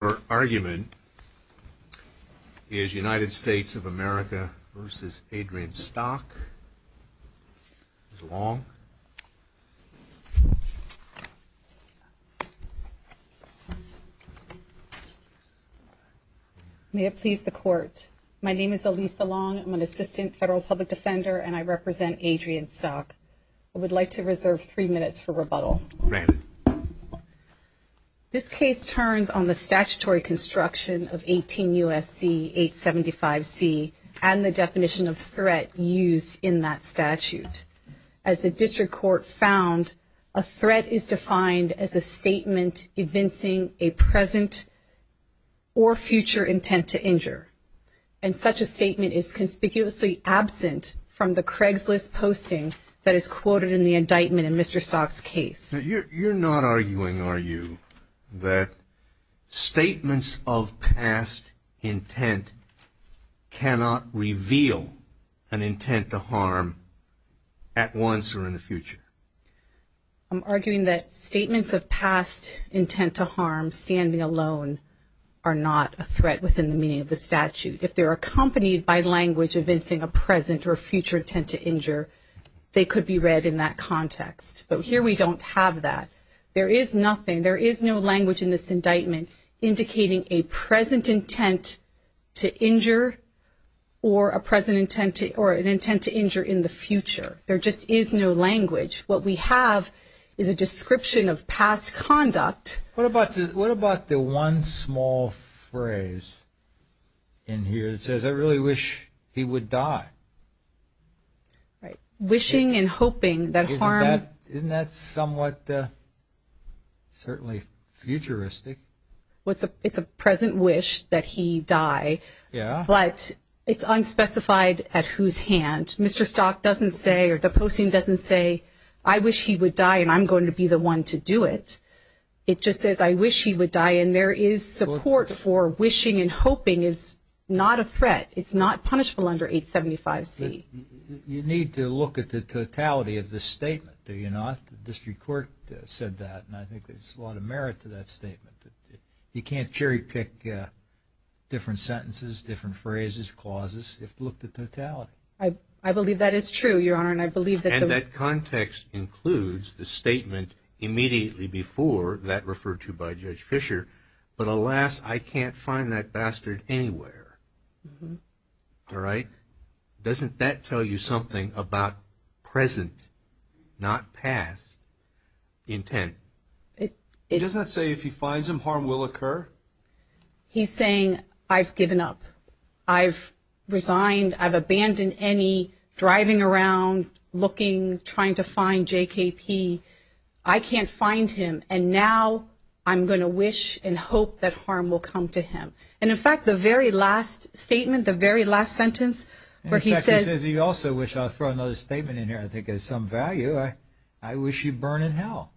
Her argument is United States of America versus Adrian Stock, Ms. Long. May it please the court. My name is Elisa Long. I'm an assistant federal public defender and I represent Adrian Stock. I would like to reserve three minutes for rebuttal. Granted. This case turns on the statutory construction of 18 U.S.C. 875C and the definition of threat used in that statute. As the district court found, a threat is defined as a statement evincing a present or future intent to injure. And such a statement is conspicuously absent from the Craigslist posting that is quoted in the indictment in Mr. Stock's case. You're not arguing, are you, that statements of past intent cannot reveal an intent to harm at once or in the future? I'm arguing that statements of past intent to harm standing alone are not a threat within the meaning of the statute. If they're accompanied by language evincing a present or future intent to injure, they could be read in that context. But here we don't have that. There is nothing, there is no language in this indictment indicating a present intent to injure or an intent to injure in the future. There just is no language. What we have is a description of past conduct. What about the one small phrase in here that says, I really wish he would die? Right. Wishing and hoping that harm. Isn't that somewhat certainly futuristic? It's a present wish that he die. Yeah. But it's unspecified at whose hand. Mr. Stock doesn't say or the posting doesn't say, I wish he would die and I'm going to be the one to do it. It just says, I wish he would die. And there is support for wishing and hoping is not a threat. It's not punishable under 875C. You need to look at the totality of this statement, do you not? The district court said that and I think there's a lot of merit to that statement. You can't cherry pick different sentences, different phrases, clauses if you look at the totality. I believe that is true, Your Honor, and I believe that the – And that context includes the statement immediately before that referred to by Judge Fischer, but alas, I can't find that bastard anywhere. All right? Doesn't that tell you something about present, not past, intent? It does not say if he finds him, harm will occur. He's saying, I've given up. I've resigned. I've abandoned any driving around, looking, trying to find JKP. I can't find him. And now I'm going to wish and hope that harm will come to him. And, in fact, the very last statement, the very last sentence where he says – In fact, he says he also wishes – I'll throw another statement in here I think has some value. I wish you burn in hell.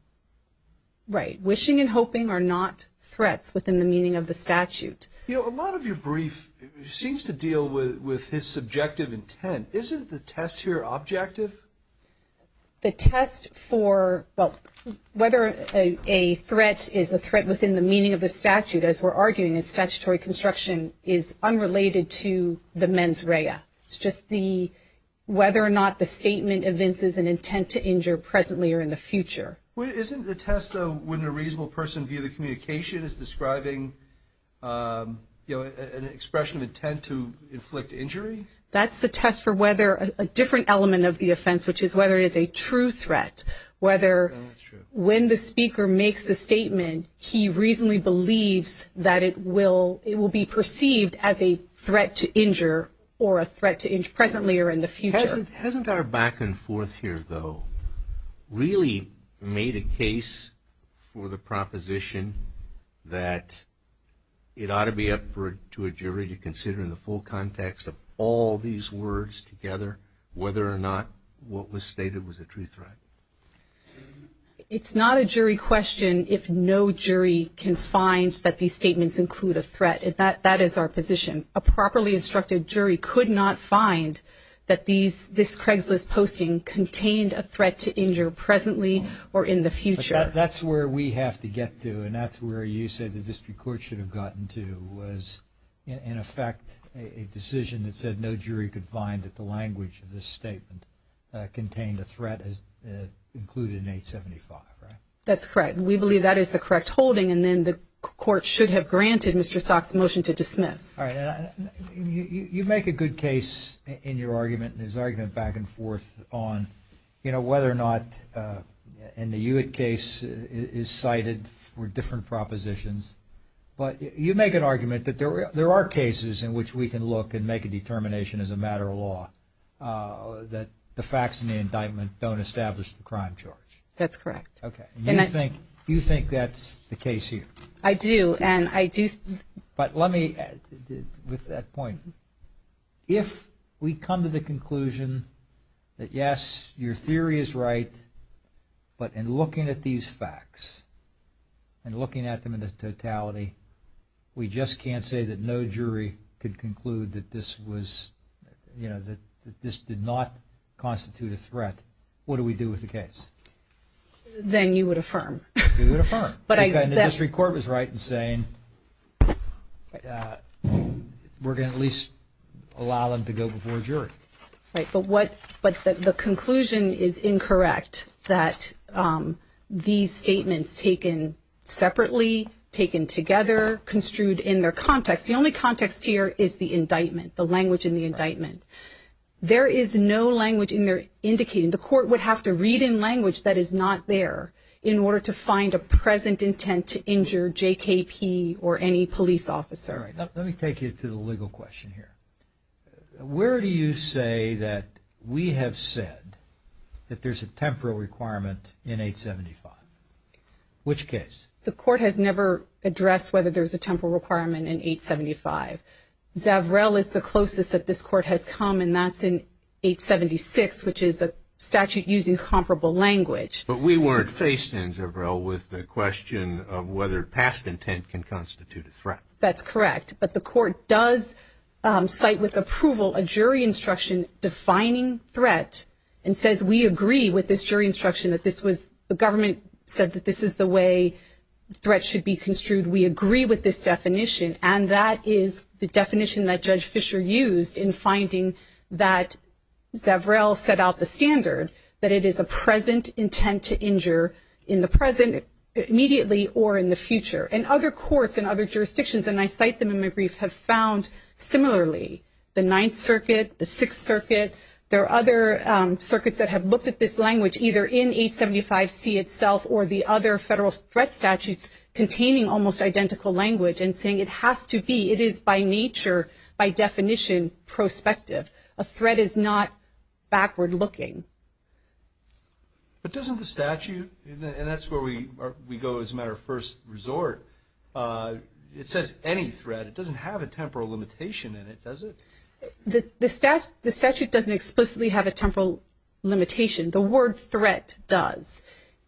Right. Wishing and hoping are not threats within the meaning of the statute. You know, a lot of your brief seems to deal with his subjective intent. Isn't the test here objective? The test for whether a threat is a threat within the meaning of the statute, as we're arguing in statutory construction, is unrelated to the mens rea. It's just whether or not the statement evinces an intent to injure presently or in the future. Isn't the test, though, when a reasonable person, via the communication, is describing an expression of intent to inflict injury? That's the test for whether a different element of the offense, which is whether it is a true threat, whether when the speaker makes the statement, he reasonably believes that it will be perceived as a threat to injure or a threat to injure presently or in the future. Hasn't our back and forth here, though, really made a case for the proposition that it ought to be up to a jury to consider in the full context of all these words together, whether or not what was stated was a true threat? It's not a jury question if no jury can find that these statements include a threat. That is our position. A properly instructed jury could not find that this Craigslist posting contained a threat to injure presently or in the future. That's where we have to get to, and that's where you say the district court should have gotten to was, in effect, a decision that said no jury could find that the language of this statement contained a threat as included in 875, right? That's correct. We believe that is the correct holding, and then the court should have granted Mr. Stock's motion to dismiss. All right. You make a good case in your argument and his argument back and forth on, you know, whether or not in the Hewitt case is cited for different propositions, but you make an argument that there are cases in which we can look and make a determination as a matter of law that the facts in the indictment don't establish the crime charge. That's correct. Okay. And you think that's the case here? I do, and I do. But let me, with that point, if we come to the conclusion that, yes, your theory is right, but in looking at these facts and looking at them in totality, we just can't say that no jury could conclude that this was, you know, that this did not constitute a threat, what do we do with the case? Then you would affirm. You would affirm. Okay, and the district court was right in saying we're going to at least allow them to go before a jury. Right, but the conclusion is incorrect that these statements taken separately, taken together, construed in their context. The only context here is the indictment, the language in the indictment. There is no language in there indicating. The court would have to read in language that is not there in order to find a present intent to injure JKP or any police officer. All right, let me take you to the legal question here. Where do you say that we have said that there's a temporal requirement in 875? Which case? The court has never addressed whether there's a temporal requirement in 875. Zavrel is the closest that this court has come, and that's in 876, which is a statute using comparable language. But we weren't faced in, Zavrel, with the question of whether past intent can constitute a threat. That's correct, but the court does cite with approval a jury instruction defining threat and says we agree with this jury instruction that this was, the government said that this is the way threats should be construed. We agree with this definition, and that is the definition that Judge Fisher used in finding that Zavrel set out the standard, that it is a present intent to injure in the present, immediately, or in the future. And other courts and other jurisdictions, and I cite them in my brief, have found similarly. The Ninth Circuit, the Sixth Circuit, there are other circuits that have looked at this language, either in 875C itself or the other federal threat statutes containing almost identical language and saying it has to be, it is by nature, by definition, prospective. A threat is not backward looking. But doesn't the statute, and that's where we go as a matter of first resort, it says any threat. It doesn't have a temporal limitation in it, does it? The statute doesn't explicitly have a temporal limitation. The word threat does.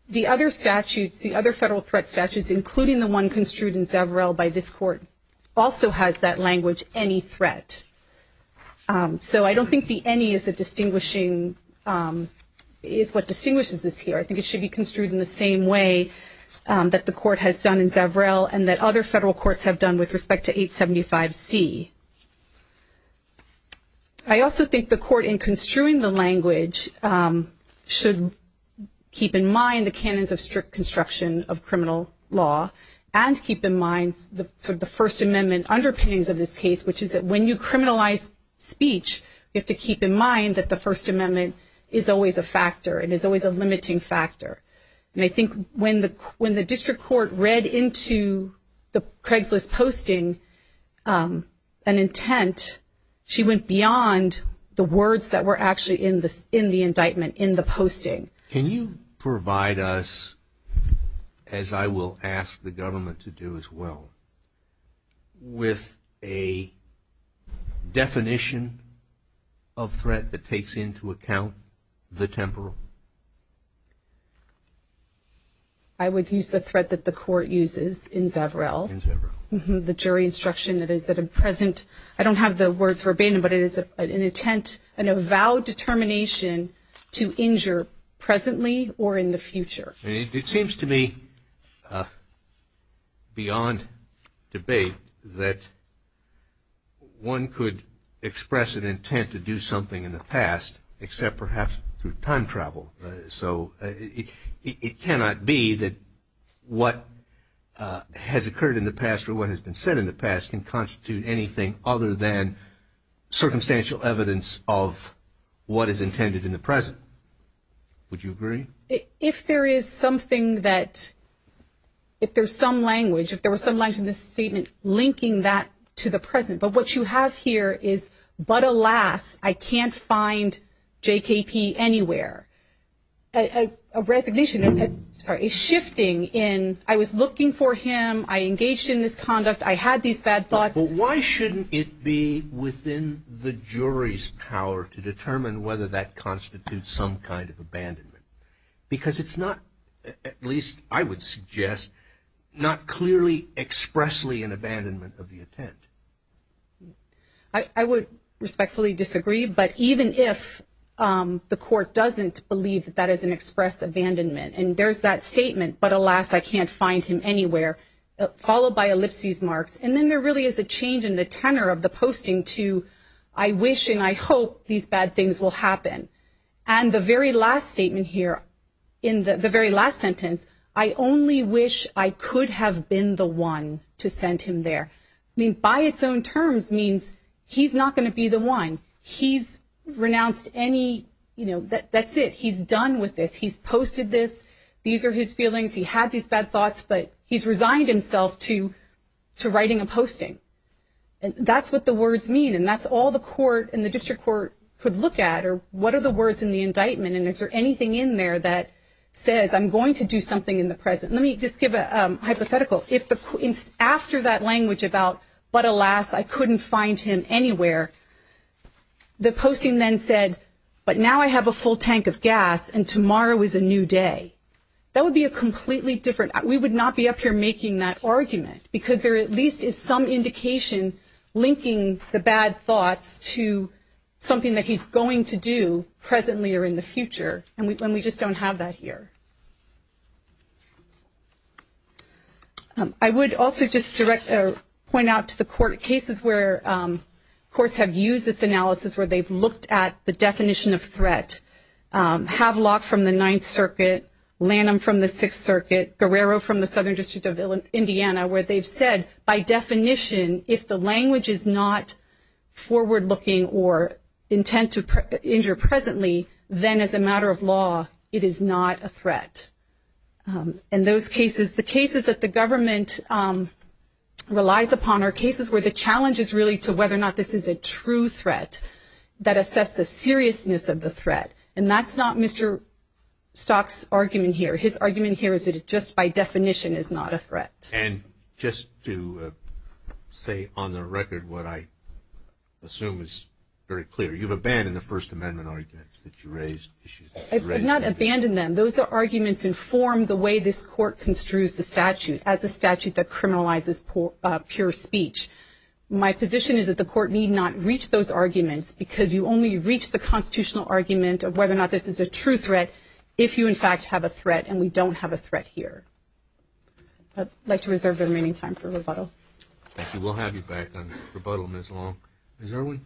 The other statutes, the other federal threat statutes, including the one construed in Zavrel by this court, also has that language, any threat. So I don't think the any is a distinguishing, is what distinguishes this here. I think it should be construed in the same way that the court has done in Zavrel and that other federal courts have done with respect to 875C. I also think the court, in construing the language, should keep in mind the canons of strict construction of criminal law and keep in mind sort of the First Amendment underpinnings of this case, which is that when you criminalize speech, you have to keep in mind that the First Amendment is always a factor. It is always a limiting factor. And I think when the district court read into the Craigslist posting an intent, she went beyond the words that were actually in the indictment, in the posting. Can you provide us, as I will ask the government to do as well, with a definition of threat that takes into account the temporal? I would use the threat that the court uses in Zavrel. In Zavrel. The jury instruction that is at a present. I don't have the words verbatim, but it is an intent, an avowed determination to injure presently or in the future. It seems to me, beyond debate, that one could express an intent to do something in the past, except perhaps through time travel. So it cannot be that what has occurred in the past or what has been said in the past can constitute anything other than circumstantial evidence of what is intended in the present. Would you agree? If there is something that, if there's some language, if there was some language in this statement linking that to the present, but what you have here is, but alas, I can't find J.K.P. anywhere. A resignation, sorry, a shifting in I was looking for him, I engaged in this conduct, I had these bad thoughts. But why shouldn't it be within the jury's power to determine whether that constitutes some kind of abandonment? Because it's not, at least I would suggest, not clearly expressly an abandonment of the intent. I would respectfully disagree, but even if the court doesn't believe that that is an express abandonment, and there's that statement, but alas, I can't find him anywhere, followed by ellipses marks, and then there really is a change in the tenor of the posting to I wish and I hope these bad things will happen. And the very last statement here, in the very last sentence, is I only wish I could have been the one to send him there. I mean, by its own terms means he's not going to be the one. He's renounced any, you know, that's it. He's done with this. He's posted this. These are his feelings. He had these bad thoughts, but he's resigned himself to writing a posting. And that's what the words mean, and that's all the court and the district court could look at, or what are the words in the indictment, and is there anything in there that says I'm going to do something in the present. Let me just give a hypothetical. After that language about but alas, I couldn't find him anywhere, the posting then said, but now I have a full tank of gas, and tomorrow is a new day. That would be a completely different, we would not be up here making that argument, because there at least is some indication linking the bad thoughts to something that he's going to do presently or in the future, and we just don't have that here. I would also just point out to the court cases where courts have used this analysis where they've looked at the definition of threat. Havelock from the Ninth Circuit, Lanham from the Sixth Circuit, Guerrero from the Southern District of Indiana, where they've said, by definition, if the language is not forward-looking or intent to injure presently, then as a matter of law it is not a threat. And those cases, the cases that the government relies upon are cases where the challenge is really to whether or not this is a true threat that assess the seriousness of the threat, and that's not Mr. Stock's argument here. His argument here is that it just by definition is not a threat. And just to say on the record what I assume is very clear, you've abandoned the First Amendment arguments that you raised. I did not abandon them. Those are arguments that inform the way this court construes the statute as a statute that criminalizes pure speech. My position is that the court need not reach those arguments, because you only reach the constitutional argument of whether or not this is a true threat if you in fact have a threat, and we don't have a threat here. I'd like to reserve the remaining time for rebuttal. Thank you. We'll have you back on rebuttal, Ms. Long. Ms. Irwin?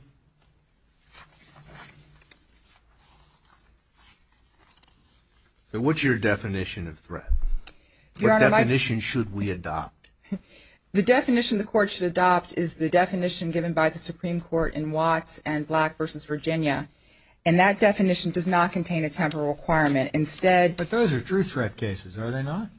So what's your definition of threat? Your Honor, my ---- What definition should we adopt? The definition the court should adopt is the definition given by the Supreme Court in Watts and Black v. Virginia, and that definition does not contain a temporal requirement. But those are true threat cases, are they not?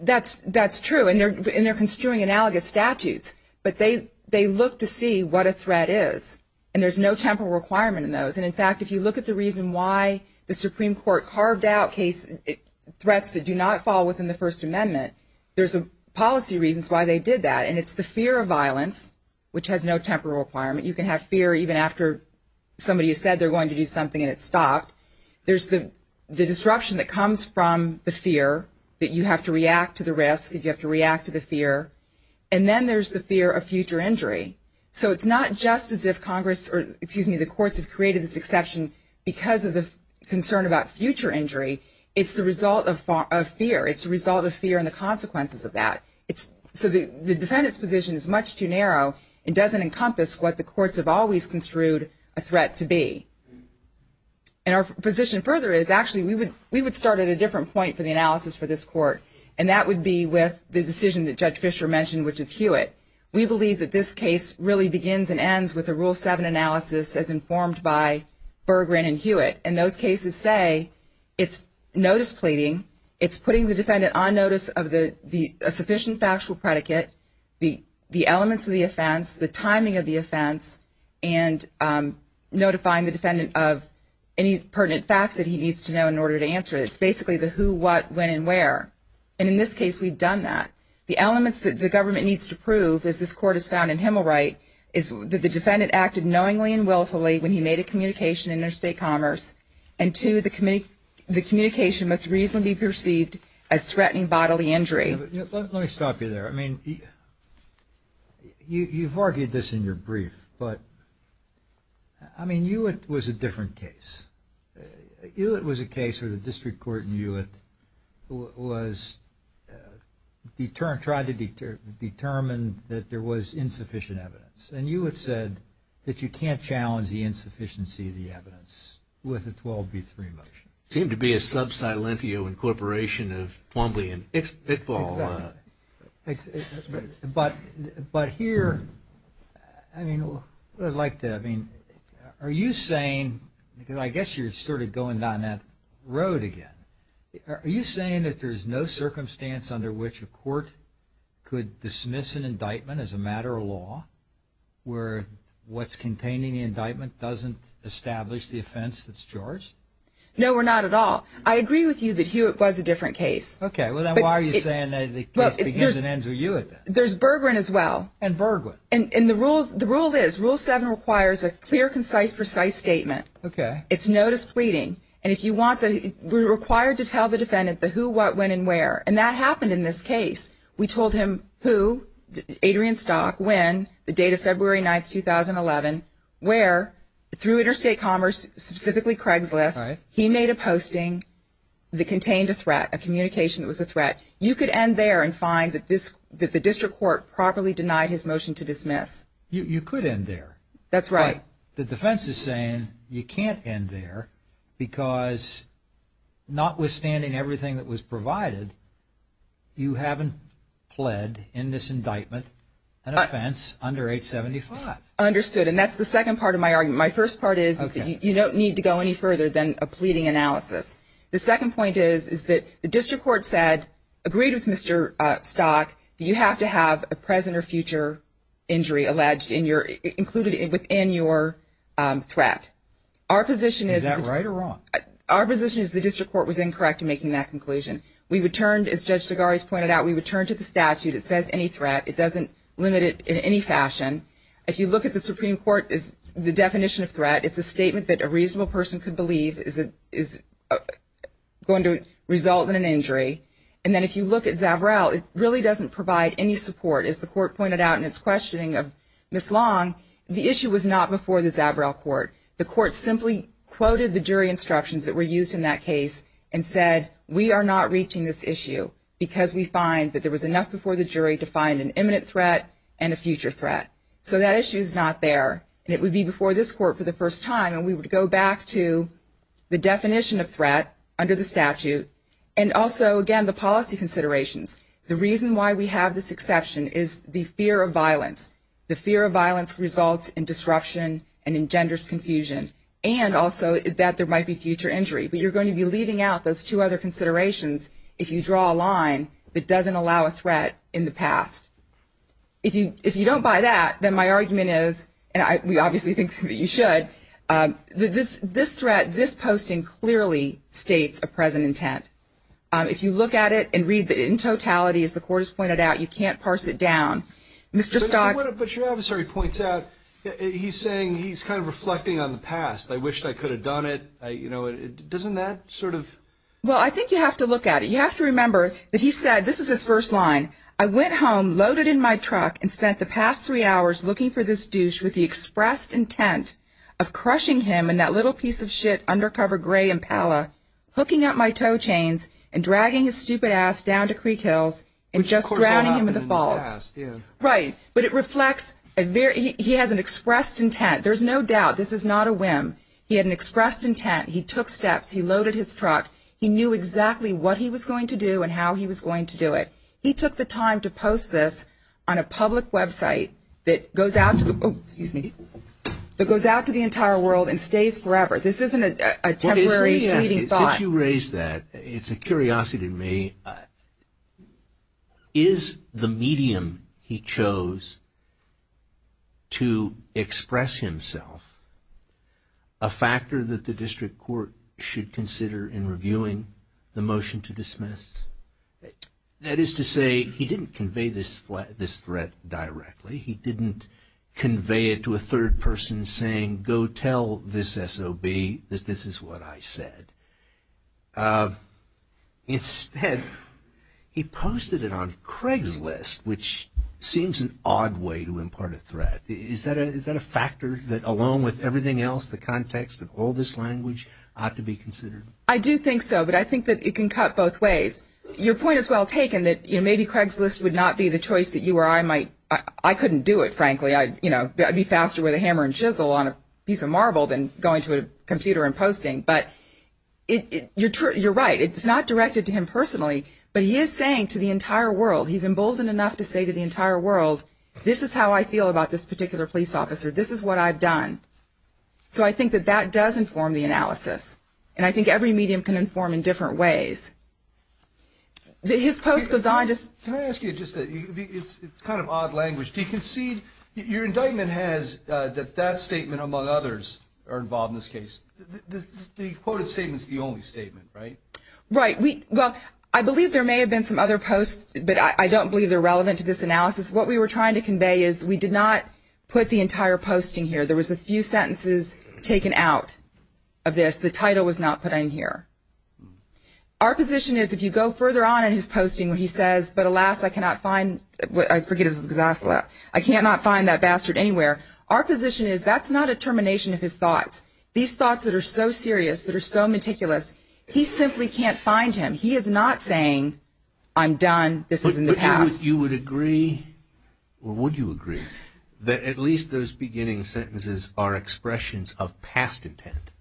That's true, and they're construing analogous statutes, but they look to see what a threat is, and there's no temporal requirement in those. And, in fact, if you look at the reason why the Supreme Court carved out threats that do not fall within the First Amendment, there's policy reasons why they did that, and it's the fear of violence, which has no temporal requirement. You can have fear even after somebody has said they're going to do something and it's stopped. There's the disruption that comes from the fear that you have to react to the risk, that you have to react to the fear, and then there's the fear of future injury. So it's not just as if Congress or, excuse me, the courts have created this exception because of the concern about future injury. It's the result of fear. It's the result of fear and the consequences of that. So the defendant's position is much too narrow and doesn't encompass what the courts have always construed a threat to be. And our position further is actually we would start at a different point for the analysis for this court, and that would be with the decision that Judge Fischer mentioned, which is Hewitt. We believe that this case really begins and ends with a Rule 7 analysis as informed by Berggren and Hewitt, and those cases say it's notice pleading, it's putting the defendant on notice of a sufficient factual predicate, the elements of the offense, the timing of the offense, and notifying the defendant of any pertinent facts that he needs to know in order to answer it. It's basically the who, what, when, and where. And in this case, we've done that. The elements that the government needs to prove, as this court has found in Himmelright, is that the defendant acted knowingly and willfully when he made a communication in interstate commerce, and two, the communication must reasonably be perceived as threatening bodily injury. Let me stop you there. I mean, you've argued this in your brief, but, I mean, Hewitt was a different case. Hewitt was a case where the district court in Hewitt was determined, tried to determine that there was insufficient evidence, and Hewitt said that you can't challenge the insufficiency of the evidence with a 12B3 motion. It seemed to be a sub silentio incorporation of Twombly and Pickball. But here, I mean, what I'd like to, I mean, are you saying, because I guess you're sort of going down that road again, are you saying that there's no circumstance under which a court could dismiss an indictment as a matter of law where what's containing the indictment doesn't establish the offense that's charged? No, or not at all. I agree with you that Hewitt was a different case. Okay. Well, then why are you saying that the case begins and ends with Hewitt? There's Bergwin as well. And Bergwin. And the rule is, Rule 7 requires a clear, concise, precise statement. Okay. It's notice pleading. And if you want the, we're required to tell the defendant the who, what, when, and where. And that happened in this case. We told him who, Adrian Stock, when, the date of February 9, 2011, where, through Interstate Commerce, specifically Craigslist, he made a posting that contained a threat, a communication that was a threat. You could end there and find that the district court properly denied his motion to dismiss. You could end there. That's right. But the defense is saying you can't end there because notwithstanding everything that was provided, you haven't pled in this indictment an offense under 875. Understood. And that's the second part of my argument. My first part is that you don't need to go any further than a pleading analysis. The second point is, is that the district court said, agreed with Mr. Stock, you have to have a present or future injury alleged in your, included within your threat. Our position is. Is that right or wrong? Our position is the district court was incorrect in making that conclusion. We returned, as Judge Segares pointed out, we returned to the statute. It says any threat. It doesn't limit it in any fashion. If you look at the Supreme Court, the definition of threat, And then if you look at Zavarro, it really doesn't provide any support. As the court pointed out in its questioning of Ms. Long, the issue was not before the Zavarro court. The court simply quoted the jury instructions that were used in that case and said, we are not reaching this issue because we find that there was enough before the jury to find an imminent threat and a future threat. So that issue is not there. And it would be before this court for the first time. And we would go back to the definition of threat under the statute. And also, again, the policy considerations. The reason why we have this exception is the fear of violence. The fear of violence results in disruption and engenders confusion. And also that there might be future injury. But you're going to be leaving out those two other considerations if you draw a line that doesn't allow a threat in the past. If you don't buy that, then my argument is, and we obviously think that you should, this threat, this posting clearly states a present intent. If you look at it and read it in totality, as the court has pointed out, you can't parse it down. Mr. Stock? But your officer, he points out, he's saying he's kind of reflecting on the past. I wished I could have done it. Doesn't that sort of? Well, I think you have to look at it. You have to remember that he said, this is his first line. I went home loaded in my truck and spent the past three hours looking for this douche with the expressed intent of crushing him in that little piece of shit undercover gray Impala, hooking up my toe chains and dragging his stupid ass down to Creek Hills and just drowning him in the falls. Which, of course, happened in the past. Right. But it reflects a very, he has an expressed intent. There's no doubt. This is not a whim. He had an expressed intent. He took steps. He loaded his truck. He knew exactly what he was going to do and how he was going to do it. He took the time to post this on a public website that goes out to the, oh, excuse me, that goes out to the entire world and stays forever. This isn't a temporary, fleeting thought. Since you raised that, it's a curiosity to me. Is the medium he chose to express himself a factor that the district court should consider in reviewing the motion to dismiss? That is to say, he didn't convey this threat directly. He didn't convey it to a third person saying, go tell this SOB that this is what I said. Instead, he posted it on Craigslist, which seems an odd way to impart a threat. Is that a factor that, along with everything else, the context of all this language, ought to be considered? I do think so, but I think that it can cut both ways. Your point is well taken that maybe Craigslist would not be the choice that you or I might, I couldn't do it, frankly. I'd be faster with a hammer and chisel on a piece of marble than going to a computer and posting. But you're right, it's not directed to him personally, but he is saying to the entire world, he's emboldened enough to say to the entire world, this is how I feel about this particular police officer. This is what I've done. So I think that that does inform the analysis. And I think every medium can inform in different ways. His post goes on. Can I ask you just a, it's kind of odd language. Do you concede, your indictment has that that statement, among others, are involved in this case. The quoted statement's the only statement, right? Right. Well, I believe there may have been some other posts, but I don't believe they're relevant to this analysis. What we were trying to convey is we did not put the entire posting here. There was a few sentences taken out of this. The title was not put in here. Our position is if you go further on in his posting where he says, but alas, I cannot find, I forget, I cannot find that bastard anywhere. Our position is that's not a termination of his thoughts. These thoughts that are so serious, that are so meticulous, he simply can't find him. He is not saying, I'm done, this is in the past. Would you agree, or would you agree, that at least those beginning sentences are expressions of past intent?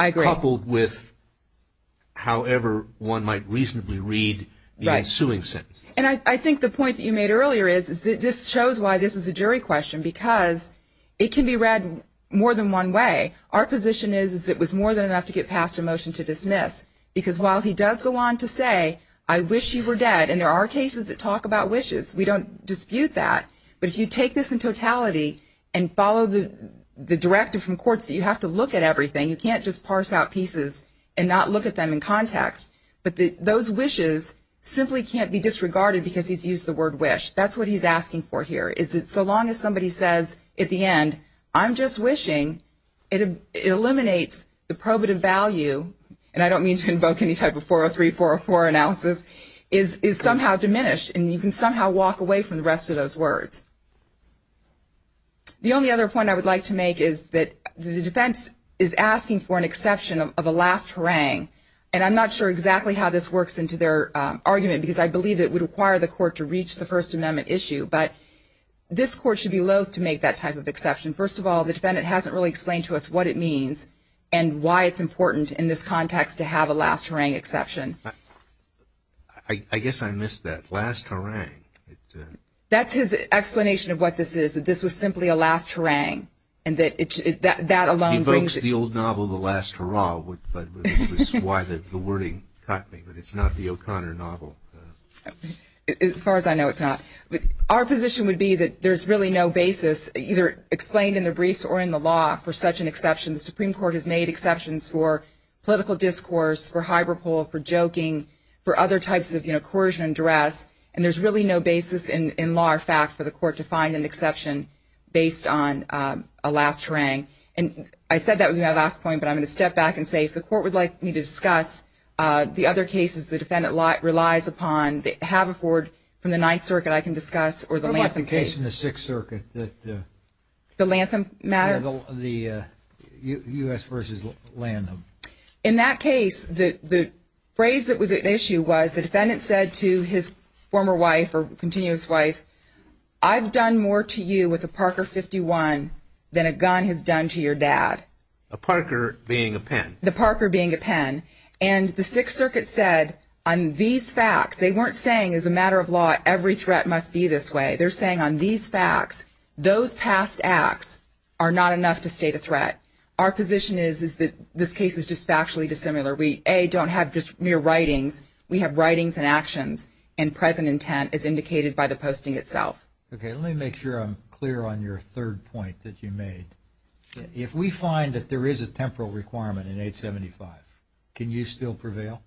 I agree. Coupled with however one might reasonably read the ensuing sentences. And I think the point that you made earlier is that this shows why this is a jury question, because it can be read more than one way. Our position is it was more than enough to get past a motion to dismiss, because while he does go on to say, I wish you were dead, and there are cases that talk about wishes. We don't dispute that. But if you take this in totality and follow the directive from courts that you have to look at everything, you can't just parse out pieces and not look at them in context. But those wishes simply can't be disregarded because he's used the word wish. That's what he's asking for here, is that so long as somebody says at the end, I'm just wishing, it eliminates the probative value, and I don't mean to invoke any type of 403, 404 analysis, is somehow diminished. And you can somehow walk away from the rest of those words. The only other point I would like to make is that the defense is asking for an exception of a last harangue. And I'm not sure exactly how this works into their argument, because I believe it would require the court to reach the First Amendment issue. But this court should be loath to make that type of exception. First of all, the defendant hasn't really explained to us what it means and why it's important in this context to have a last harangue exception. I guess I missed that. Last harangue. That's his explanation of what this is, that this was simply a last harangue. He invokes the old novel, The Last Hurrah, which is why the wording caught me, but it's not the O'Connor novel. As far as I know, it's not. Our position would be that there's really no basis, either explained in the briefs or in the law, for such an exception. The Supreme Court has made exceptions for political discourse, for hyperbole, for joking, for other types of coercion and duress, and there's really no basis in law or fact for the court to find an exception based on a last harangue. And I said that would be my last point, but I'm going to step back and say, if the court would like me to discuss the other cases the defendant relies upon, they have a forward from the Ninth Circuit I can discuss or the Lantham case. What about the case in the Sixth Circuit? The Lantham matter? Yes, the U.S. v. Lantham. In that case, the phrase that was at issue was the defendant said to his former wife or continuous wife, I've done more to you with a Parker 51 than a gun has done to your dad. A Parker being a pen. The Parker being a pen. And the Sixth Circuit said, on these facts, they weren't saying, as a matter of law, every threat must be this way. They're saying, on these facts, those past acts are not enough to state a threat. Our position is that this case is just factually dissimilar. We, A, don't have just mere writings. We have writings and actions, and present intent is indicated by the posting itself. Okay, let me make sure I'm clear on your third point that you made. If we find that there is a temporal requirement in 875, can you still prevail?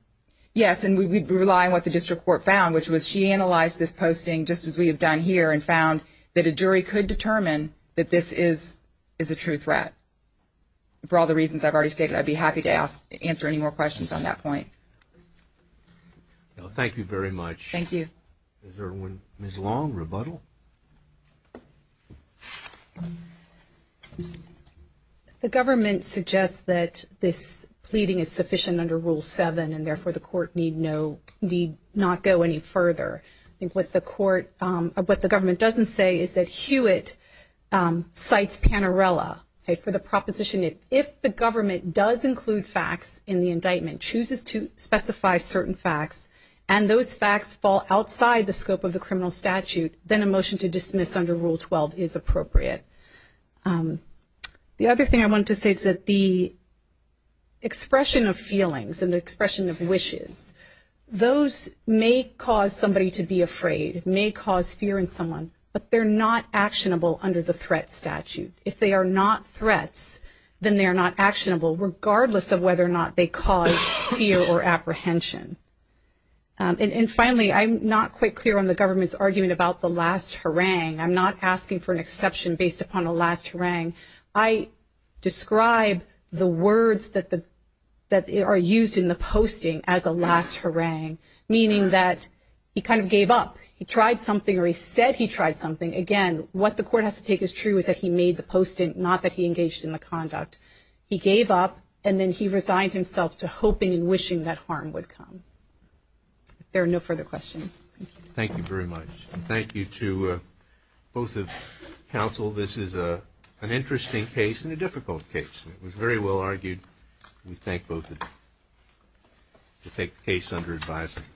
Yes, and we'd rely on what the district court found, which was she analyzed this posting just as we have done here and found that a jury could determine that this is a true threat. For all the reasons I've already stated, I'd be happy to answer any more questions on that point. Thank you very much. Thank you. Is there one Ms. Long, rebuttal? The government suggests that this pleading is sufficient under Rule 7, and therefore the court need not go any further. I think what the government doesn't say is that Hewitt cites Panarella for the proposition that if the government does include facts in the indictment, chooses to specify certain facts, and those facts fall outside the scope of the criminal statute, then a motion to dismiss under Rule 12 is appropriate. The other thing I wanted to say is that the expression of feelings and the expression of wishes, those may cause somebody to be afraid, may cause fear in someone, but they're not actionable under the threat statute. If they are not threats, then they are not actionable, regardless of whether or not they cause fear or apprehension. And finally, I'm not quite clear on the government's argument about the last harangue. I'm not asking for an exception based upon a last harangue. I describe the words that are used in the posting as a last harangue, meaning that he kind of gave up. He tried something or he said he tried something. Again, what the court has to take as true is that he made the posting, not that he engaged in the conduct. He gave up, and then he resigned himself to hoping and wishing that harm would come. If there are no further questions. Thank you. Thank you very much. And thank you to both of counsel. This is an interesting case and a difficult case. It was very well argued. We thank both of you to take the case under advisement.